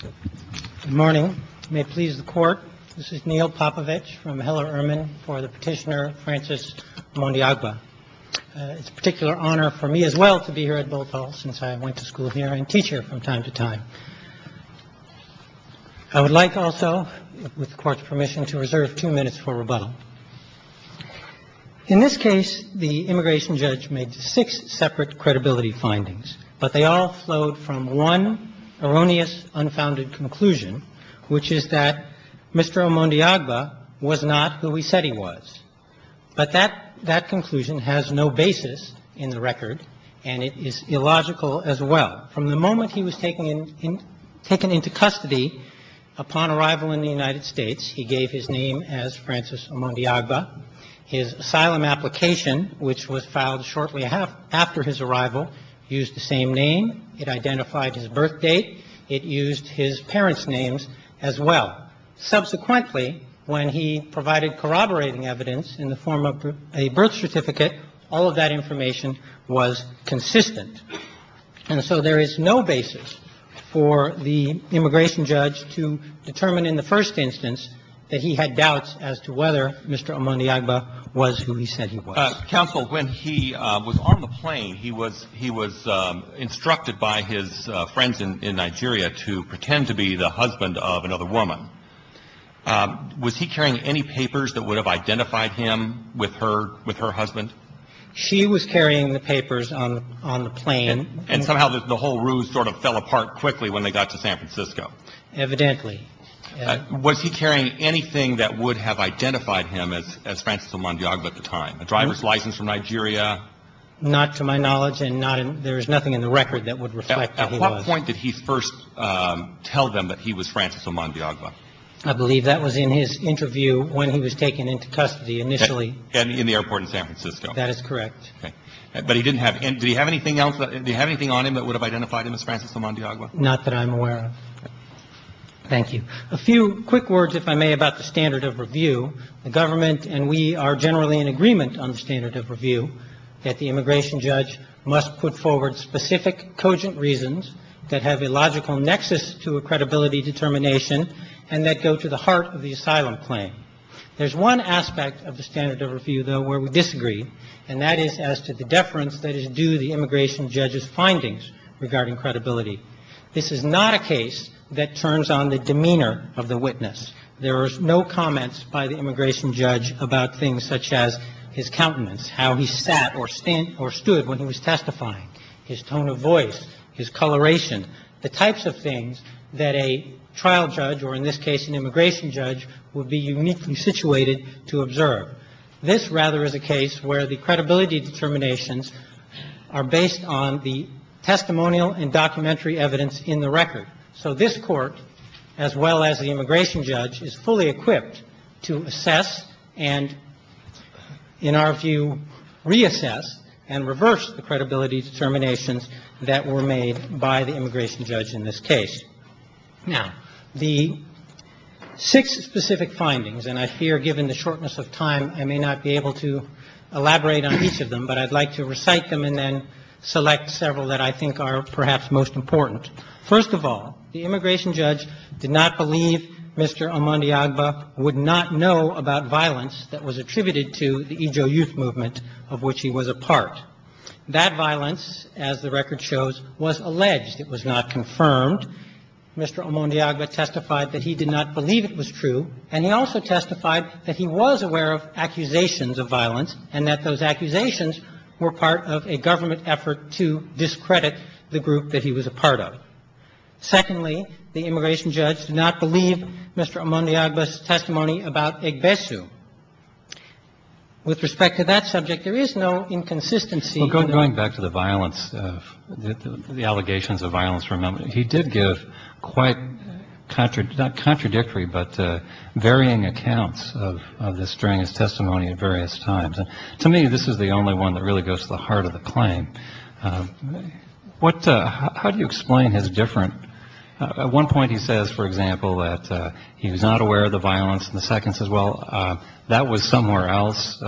Good morning. May it please the Court, this is Neil Popovich from Heller-Urman for the petitioner Francis Mondiagba. It's a particular honor for me as well to be here at Botol since I went to school here and teach here from time to time. I would like also, with the Court's permission, to reserve two minutes for rebuttal. In this case, the immigration judge made six separate credibility findings, but they all flowed from one erroneous, unfounded conclusion, which is that Mr. Mondiagba was not who he said he was. But that conclusion has no basis in the record and it is illogical as well. From the moment he was taken into custody upon arrival in the United States, he gave his name as Francis Mondiagba, and his birth certificate, which was filed shortly after his arrival, used the same name. It identified his birth date. It used his parents' names as well. Subsequently, when he provided corroborating evidence in the form of a birth certificate, all of that information was consistent. And so there is no basis for the immigration judge to determine in the first instance that he had doubts as to whether Mr. Mondiagba was who he said he was. Counsel, when he was on the plane, he was instructed by his friends in Nigeria to pretend to be the husband of another woman. Was he carrying any papers that would have identified him with her husband? She was carrying the papers on the plane. And somehow the whole ruse sort of fell apart quickly when they got to San Francisco. Evidently. Was he carrying anything that would have identified him as Francis Mondiagba at the time? A driver's license from Nigeria? Not to my knowledge and not in – there is nothing in the record that would reflect that he was. At what point did he first tell them that he was Francis Mondiagba? I believe that was in his interview when he was taken into custody initially. In the airport in San Francisco. That is correct. But he didn't have – did he have anything else – did he have anything on him that would have identified him as Francis Mondiagba? Not that I'm aware of. Thank you. A few quick words, if I may, about the standard of review. The government and we are generally in agreement on the standard of review that the immigration judge must put forward specific, cogent reasons that have a logical nexus to a credibility determination and that go to the heart of the asylum claim. There's one aspect of the standard of review, though, where we disagree, and that is as to the deference that is due the immigration judge's findings regarding credibility. This is not a case that turns on the demeanor of the witness. There are no comments by the immigration judge about things such as his countenance, how he sat or stood when he was testifying, his tone of voice, his coloration, the types of things that a trial judge, or in this case an immigration judge, would be uniquely situated to observe. This, rather, is a case where the credibility determinations are based on the testimonial and documentary evidence in the record. So this Court, as well as the immigration judge, is fully equipped to assess and, in our view, reassess and reverse the credibility determinations that were made by the immigration judge in this case. Now, the six specific findings, and I fear, given the shortness of time, I may not be able to elaborate on each of them, but I'd like to recite them and then select several that I think are perhaps most important. First of all, the immigration judge did not believe Mr. Amandi Agba would not know about violence that was attributed to the Ijo Youth Movement, of which he was a part. That violence, as the record shows, was alleged. It was not confirmed. Mr. Amandi Agba testified that he did not believe it was true, and he also testified that he was aware of accusations of violence and that those accusations were part of a government effort to discredit the group that he was a part of. Secondly, the immigration judge did not believe Mr. Amandi Agba's testimony about Egbesu. With respect to that subject, there is no inconsistency. Well, going back to the allegations of violence from Amandi, he did give quite contradictory but varying accounts of this during his testimony at various times. To me, this is the only one that really goes to the heart of the claim. How do you explain his difference? At one point he says, for example, that he was not aware of the violence, and the second says, well, that was somewhere else,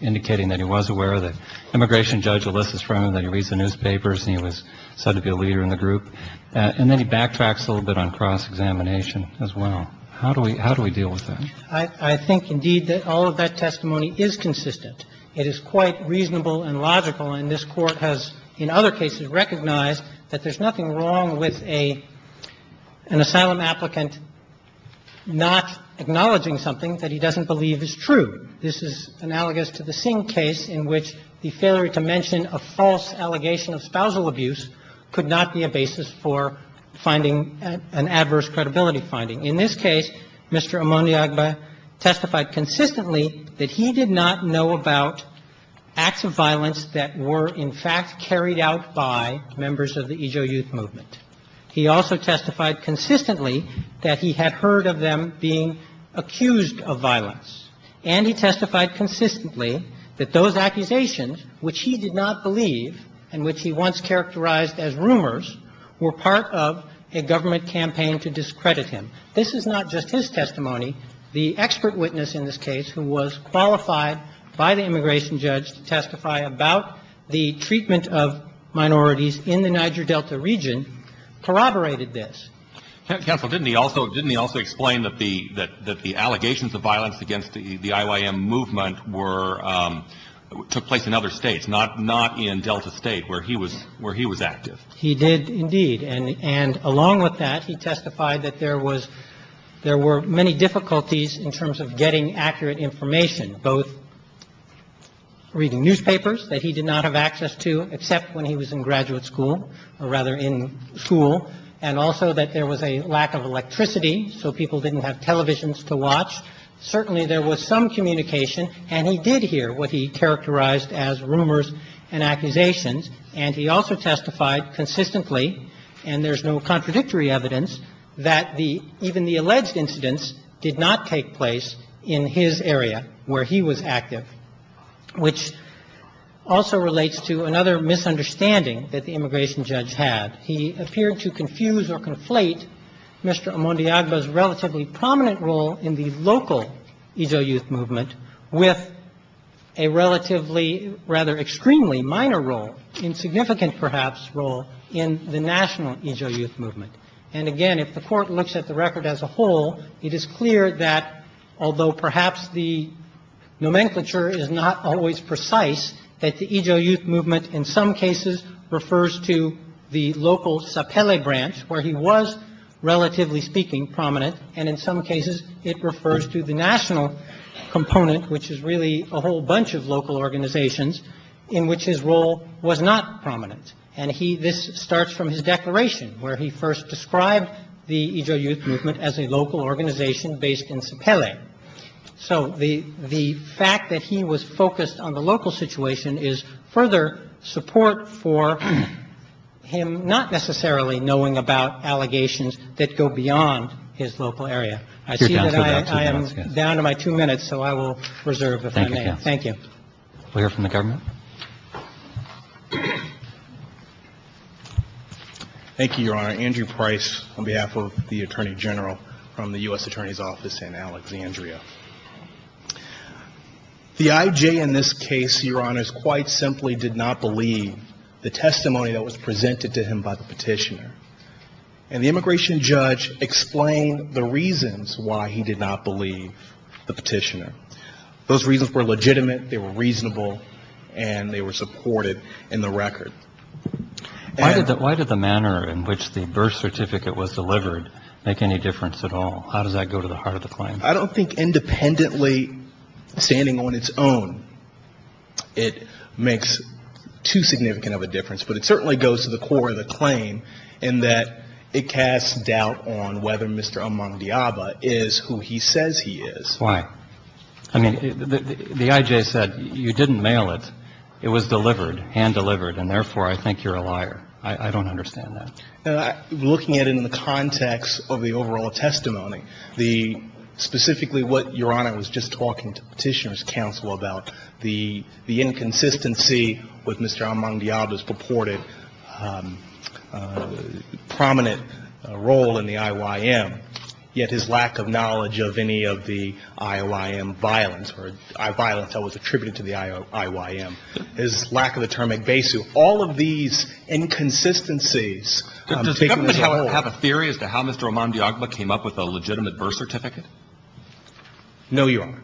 indicating that he was aware of it. Immigration judge Alyssa's friend, he reads the newspapers and he was said to be a leader in the group. And then he backtracks a little bit on cross-examination as well. How do we deal with that? I think, indeed, that all of that testimony is consistent. It is quite reasonable and logical, and this Court has, in other cases, recognized that there's nothing wrong with an asylum applicant not acknowledging something that he doesn't believe is true. This is analogous to the Singh case in which the failure to mention a false allegation of spousal abuse could not be a basis for finding an adverse credibility finding. In this case, Mr. Amandi Agba testified consistently that he did not know about acts of violence that were, in fact, carried out by members of the Ejo Youth Movement. He also testified consistently that he had heard of them being accused of violence, and he testified consistently that those accusations, which he did not believe and which he once characterized as rumors, were part of a government campaign to discredit him. This is not just his testimony. The expert witness in this case, who was qualified by the immigration judge to testify about the treatment of minorities in the Niger Delta region, corroborated this. Counsel, didn't he also explain that the allegations of violence against the IYM movement were took place in other states, not in Delta State, where he was active? He did, indeed. And along with that, he testified that there were many difficulties in terms of getting accurate information, both reading newspapers that he did not have access to except when he was in graduate school, or rather in school, and also that there was a lack of electricity, so people didn't have televisions to watch. Certainly there was some communication, and he did hear what he characterized as rumors and accusations, and he also testified consistently, and there's no contradictory evidence, that even the alleged incidents did not take place in his area where he was active, which also relates to another misunderstanding that the immigration judge had. He appeared to confuse or conflate Mr. Omondiagba's relatively prominent role in the local Ijo Youth Movement with a relatively, rather extremely minor role, insignificant perhaps, role in the national Ijo Youth Movement. And again, if the Court looks at the record as a whole, it is clear that, although perhaps the nomenclature is not always precise, that the Ijo Youth Movement in some cases refers to the local Sapele branch, where he was, relatively speaking, prominent, and in some cases it refers to the national component, which is really a whole bunch of local organizations in which his role was not prominent. And he – this starts from his declaration, where he first described the Ijo Youth Movement as a local organization based in Sapele. So the fact that he was focused on the local situation is further support for him not necessarily knowing about allegations that go beyond his local area. I see that I am down to my two minutes, so I will reserve if I may. Thank you. We'll hear from the government. Thank you, Your Honor. Andrew Price on behalf of the Attorney General from the U.S. Attorney's Office in Alexandria. The I.J. in this case, Your Honors, quite simply did not believe the testimony that was presented to him by the petitioner. And the immigration judge explained the reasons why he did not believe the petitioner. Those reasons were legitimate, they were reasonable, and they were supported in the record. Why did the manner in which the birth certificate was delivered make any difference at all? How does that go to the heart of the claim? I don't think independently standing on its own it makes too significant of a difference, but it certainly goes to the core of the claim in that it casts doubt on whether Mr. Amangdiaba is who he says he is. Why? I mean, the I.J. said you didn't mail it. It was delivered, hand-delivered, and therefore I think you're a liar. I don't understand that. Looking at it in the context of the overall testimony, the specifically what Your Honor was just talking to Petitioner's counsel about, the inconsistency with Mr. Amangdiaba's purported prominent role in the IYM, yet his lack of knowledge of any of the IYM violence or violence that was attributed to the IYM, his lack of a term at BESU, all of these inconsistencies. Does the government have a theory as to how Mr. Amangdiaba came up with a legitimate birth certificate? No, Your Honor.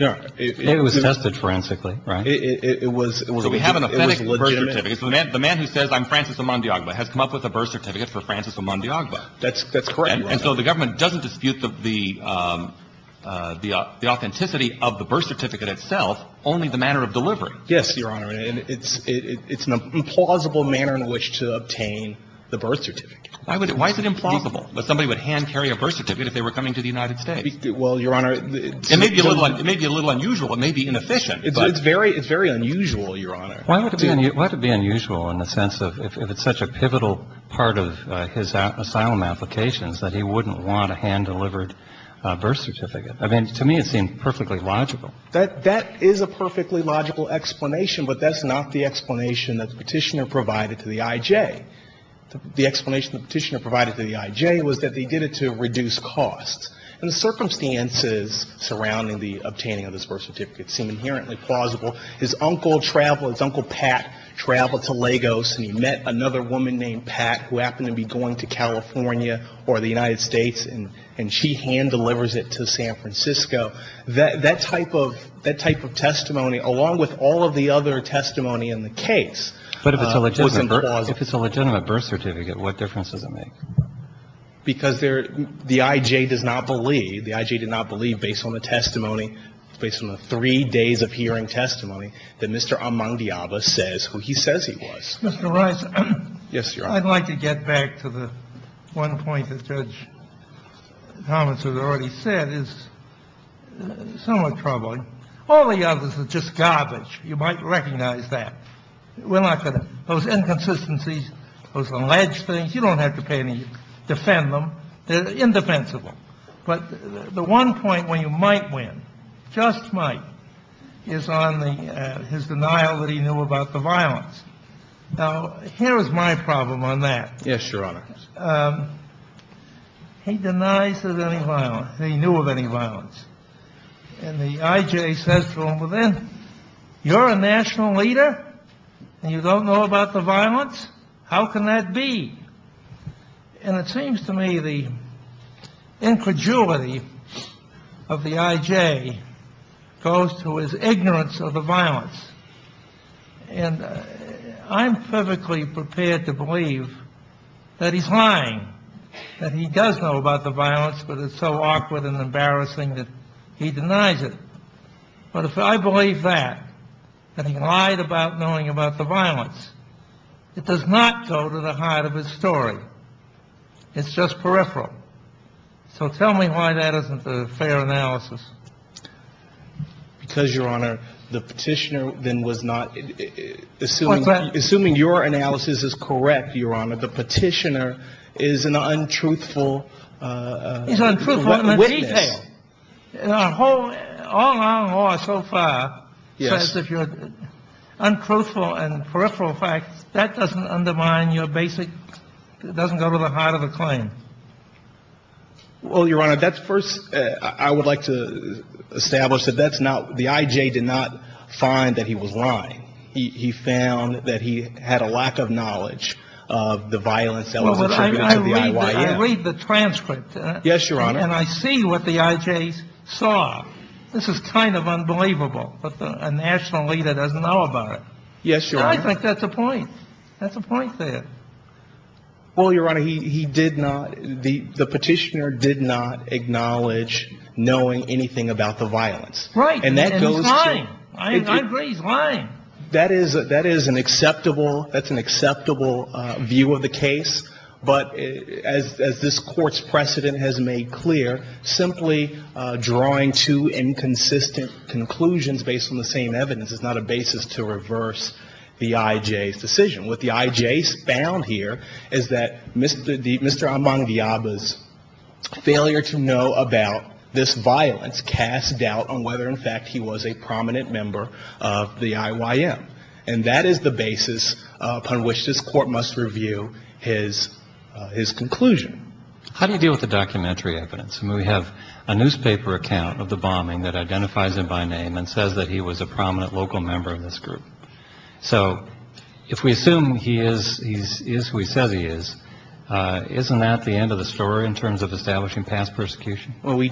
It was tested forensically, right? It was legitimate. So we have an authentic birth certificate. It was legitimate. So the man who says I'm Francis Amangdiaba has come up with a birth certificate for Francis Amangdiaba. That's correct, Your Honor. And so the government doesn't dispute the authenticity of the birth certificate itself, only the manner of delivery. Yes, Your Honor. And it's an implausible manner in which to obtain the birth certificate. Why is it implausible that somebody would hand-carry a birth certificate if they were coming to the United States? Well, Your Honor. It may be a little unusual. It may be inefficient. It's very unusual, Your Honor. Why would it be unusual in the sense of if it's such a pivotal part of his asylum applications that he wouldn't want a hand-delivered birth certificate? I mean, to me it seemed perfectly logical. That is a perfectly logical explanation, but that's not the explanation that the Petitioner provided to the I.J. The explanation the Petitioner provided to the I.J. was that they did it to reduce costs. And the circumstances surrounding the obtaining of this birth certificate seem inherently plausible. His uncle traveled. His Uncle Pat traveled to Lagos, and he met another woman named Pat who happened to be going to California or the United States, and she hand-delivers it to San Francisco. That type of testimony, along with all of the other testimony in the case, was implausible. But if it's a legitimate birth certificate, what difference does it make? Because there the I.J. does not believe, the I.J. did not believe based on the testimony, based on the three days of hearing testimony, that Mr. Amandiaba says who he says he was. Mr. Rice. Yes, Your Honor. I'd like to get back to the one point that Judge Thomas has already said is somewhat troubling. All the others are just garbage. You might recognize that. We're not going to – those inconsistencies, those alleged things, you don't have to pay any – defend them. They're indefensible. But the one point where you might win, just might, is on the – his denial that he knew about the violence. Now, here is my problem on that. Yes, Your Honor. He denies that any violence – that he knew of any violence. And the I.J. says to him, well, then, you're a national leader, and you don't know about the violence? How can that be? And it seems to me the incredulity of the I.J. goes to his ignorance of the violence. And I'm perfectly prepared to believe that he's lying, that he does know about the violence, but it's so awkward and embarrassing that he denies it. But if I believe that, that he lied about knowing about the violence, it does not go to the heart of his story. It's just peripheral. So tell me why that isn't a fair analysis. Because, Your Honor, the petitioner then was not – assuming your analysis is correct, Your Honor, the petitioner is an untruthful witness. Yes. All our law so far says if you're untruthful and peripheral facts, that doesn't undermine your basic – doesn't go to the heart of the claim. Well, Your Honor, that's first – I would like to establish that that's not – the I.J. did not find that he was lying. He found that he had a lack of knowledge of the violence that was attributed to the I.Y.M. I read the transcript. Yes, Your Honor. And I see what the I.J. saw. This is kind of unbelievable that a national leader doesn't know about it. Yes, Your Honor. And I think that's a point. That's a point there. Well, Your Honor, he did not – the petitioner did not acknowledge knowing anything about the violence. Right. And he's lying. I agree he's lying. That is an acceptable – that's an acceptable view of the case. But as this Court's precedent has made clear, simply drawing two inconsistent conclusions based on the same evidence is not a basis to reverse the I.J.'s decision. What the I.J. found here is that Mr. Ambang-Diaba's failure to know about this violence cast doubt on whether, in fact, he was a prominent member of the I.Y.M. And that is the basis upon which this Court must review his conclusion. How do you deal with the documentary evidence? I mean, we have a newspaper account of the bombing that identifies him by name and says that he was a prominent local member of this group. So if we assume he is who he says he is, isn't that the end of the story in terms of establishing past persecution? I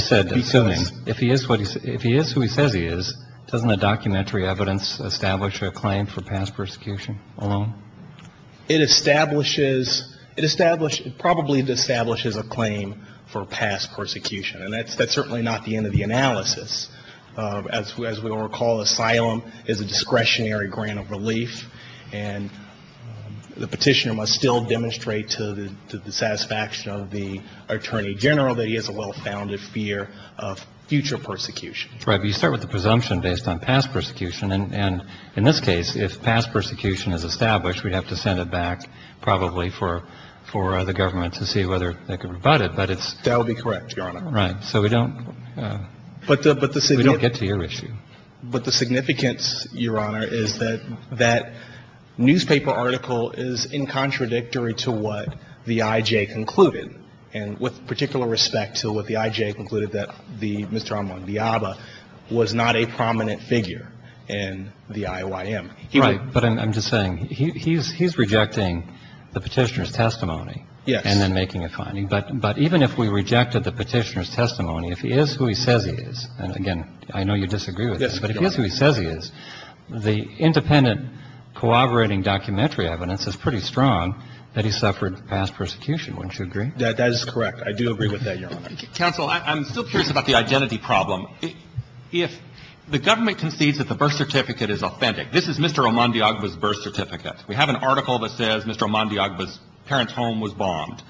said assuming. If he is who he says he is, doesn't the documentary evidence establish a claim for past persecution alone? It establishes – it establishes – it probably establishes a claim for past persecution. And that's certainly not the end of the analysis. As we all recall, asylum is a discretionary grant of relief. And the petitioner must still demonstrate to the satisfaction of the attorney general that he has a well-founded fear of future persecution. Right. But you start with the presumption based on past persecution. And in this case, if past persecution is established, we'd have to send it back probably for the government to see whether they can rebut it. But it's – That would be correct, Your Honor. Right. So we don't – we don't get to your issue. But the significance, Your Honor, is that that newspaper article is incontradictory to what the I.J. concluded. And with particular respect to what the I.J. concluded, that the – Mr. Armand Villalba was not a prominent figure in the I.Y.M. Right. But I'm just saying, he's rejecting the petitioner's testimony. Yes. And then making a finding. But even if we rejected the petitioner's testimony, if he is who he says he is – and, again, I know you disagree with this – but if he is who he says he is, the independent corroborating documentary evidence is pretty strong that he suffered past persecution. That is correct. I do agree with that, Your Honor. Counsel, I'm still curious about the identity problem. If the government concedes that the birth certificate is authentic – this is Mr. Armand Villalba's birth certificate. We have an article that says Mr. Armand Villalba's parents' home was bombed.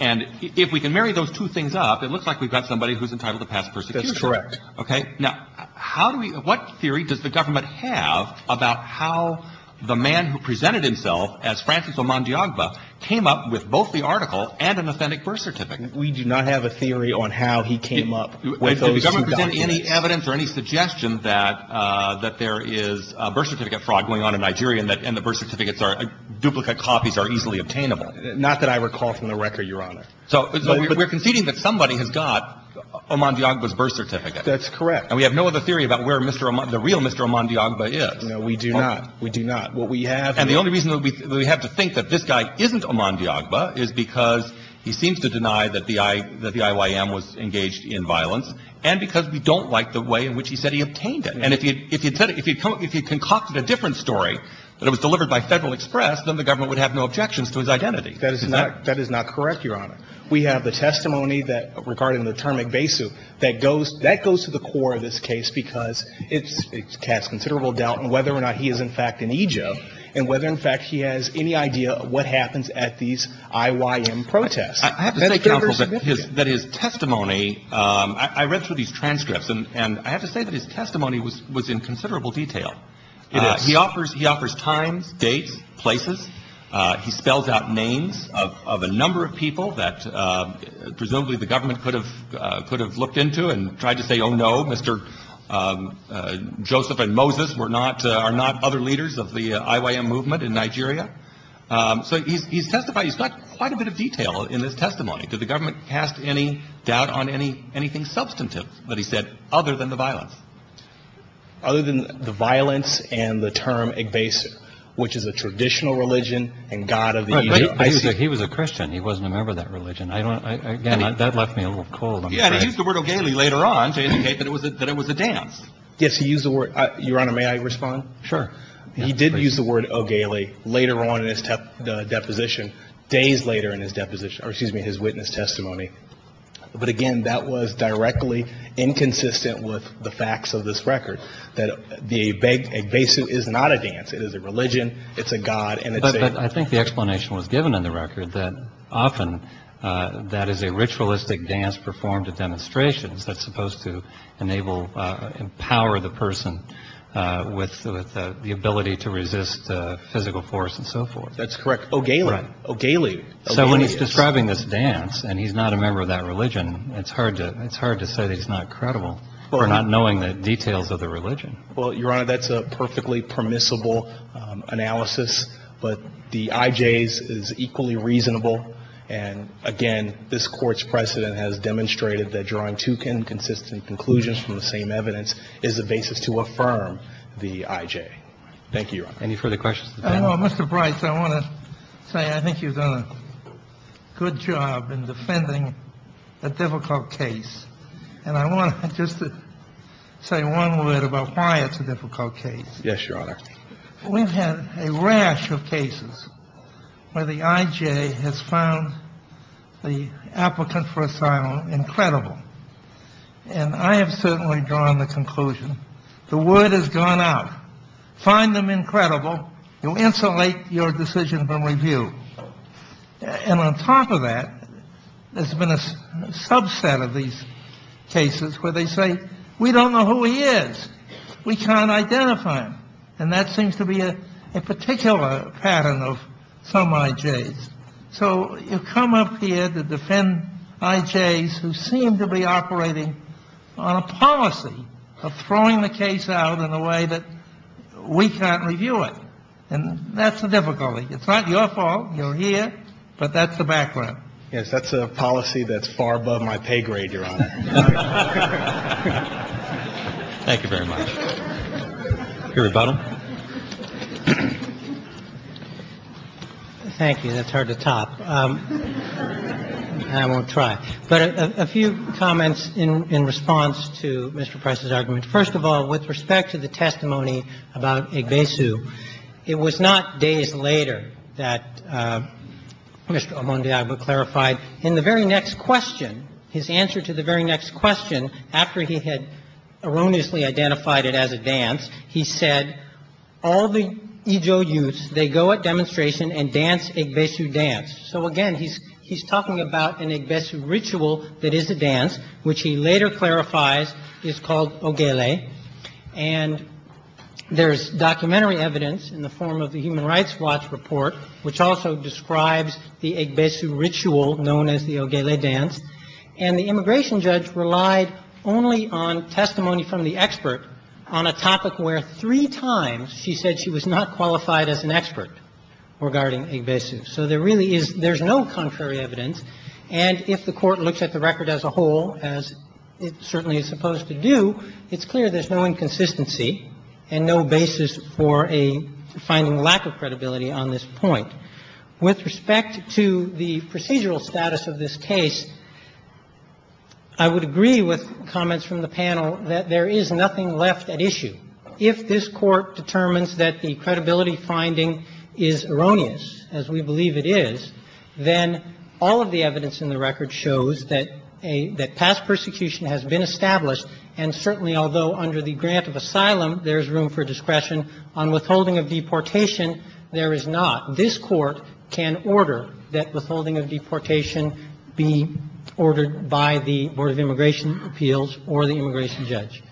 And if we can marry those two things up, it looks like we've got somebody who's entitled to past persecution. That's correct. Okay? Now, how do we – what theory does the government have about how the man who presented himself as Francis Armand Villalba came up with both the article and an authentic birth certificate? We do not have a theory on how he came up with those two documents. Did the government present any evidence or any suggestion that there is a birth certificate fraud going on in Nigeria and the birth certificates are – duplicate copies are easily obtainable? Not that I recall from the record, Your Honor. So we're conceding that somebody has got Armand Villalba's birth certificate. That's correct. And we have no other theory about where Mr. Armand – the real Mr. Armand Villalba No, we do not. We do not. What we have – And the only reason that we have to think that this guy isn't Armand Villalba is because he seems to deny that the I – that the IYM was engaged in violence and because we don't like the way in which he said he obtained it. And if he – if he'd said – if he'd – if he'd concocted a different story that it was delivered by Federal Express, then the government would have no objections to his identity. That is not – that is not correct, Your Honor. We have the testimony that – regarding the term Egbeisu that goes – that goes to the core of this case because it's – it casts considerable doubt on whether or not he is in fact in Egbe and whether in fact he has any idea what happens at these IYM protests. I have to say, Counsel, that his – that his testimony – I read through these transcripts and I have to say that his testimony was in considerable detail. It is. He offers – he offers times, dates, places. He spells out names of a number of people that presumably the government could have looked into and tried to say, oh, no, Mr. Joseph and Moses were not – are not other leaders of the IYM movement in Nigeria. So he's testified – he's got quite a bit of detail in his testimony. Did the government cast any doubt on any – anything substantive that he said other than the violence? Other than the violence and the term Egbeisu, which is a traditional religion and god of the – Right, but he was a Christian. He wasn't a member of that religion. Yeah, and he used the word Ogele later on to indicate that it was a – that it was a dance. Yes, he used the word – Your Honor, may I respond? Sure. He did use the word Ogele later on in his deposition, days later in his deposition – or excuse me, his witness testimony. But again, that was directly inconsistent with the facts of this record, that the Egbeisu is not a dance. It is a religion. It's a god. And it's a – Well, Your Honor, that's a perfectly permissible analysis. But the IJ's is equally reasonable. And again, this Court's precedent has demonstrated that the IJ's is not a dance. It's a god. It's a god. It's a god. It's a god. I agree with Justice Sotomayor that drawing two inconsistent conclusions from the same evidence is the basis to affirm the IJ. Thank you, Your Honor. Any further questions? I don't know. Mr. Brice, I want to say I think you've done a good job in defending a difficult case. And I want just to say one word about why it's a difficult case. Yes, Your Honor. We've had a rash of cases where the IJ has found the applicant for asylum incredible. And I have certainly drawn the conclusion the word has gone out. Find them incredible. You'll insulate your decision from review. And on top of that, there's been a subset of these cases where they say, we don't know who he is. We can't identify him. And that seems to be a particular pattern of some IJs. So you come up here to defend IJs who seem to be operating on a policy of throwing the case out in a way that we can't review it. And that's the difficulty. It's not your fault. You're here. But that's the background. Yes, that's a policy that's far above my pay grade, Your Honor. Thank you very much. Your rebuttal. Thank you. That's hard to top. I won't try. But a few comments in response to Mr. Price's argument. First of all, with respect to the testimony about Igbeisu, it was not days later that Mr. Omondiagwa clarified. In the very next question, his answer to the very next question, after he had erroneously identified it as a dance, he said, all the Ijo youths, they go at demonstration and dance Igbeisu dance. So, again, he's talking about an Igbeisu ritual that is a dance, which he later clarifies is called ogele. And there's documentary evidence in the form of the Human Rights Watch report, which also describes the Igbeisu ritual known as the ogele dance. And the immigration judge relied only on testimony from the expert on a topic where three times she said she was not qualified as an expert regarding Igbeisu. So there really is no contrary evidence. And if the Court looks at the record as a whole, as it certainly is supposed to do, it's clear there's no inconsistency and no basis for a finding lack of credibility on this point. With respect to the procedural status of this case, I would agree with comments from the panel that there is nothing left at issue. If this Court determines that the credibility finding is erroneous, as we believe it is, then all of the evidence in the record shows that a — that past persecution has been established. And certainly, although under the grant of asylum there's room for discretion on withholding of deportation, there is not. This Court can order that withholding of deportation be ordered by the Board of Immigration Appeals or the immigration judge.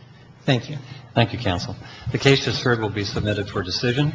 Thank you. Roberts. Thank you, counsel. The case just heard will be submitted for decision.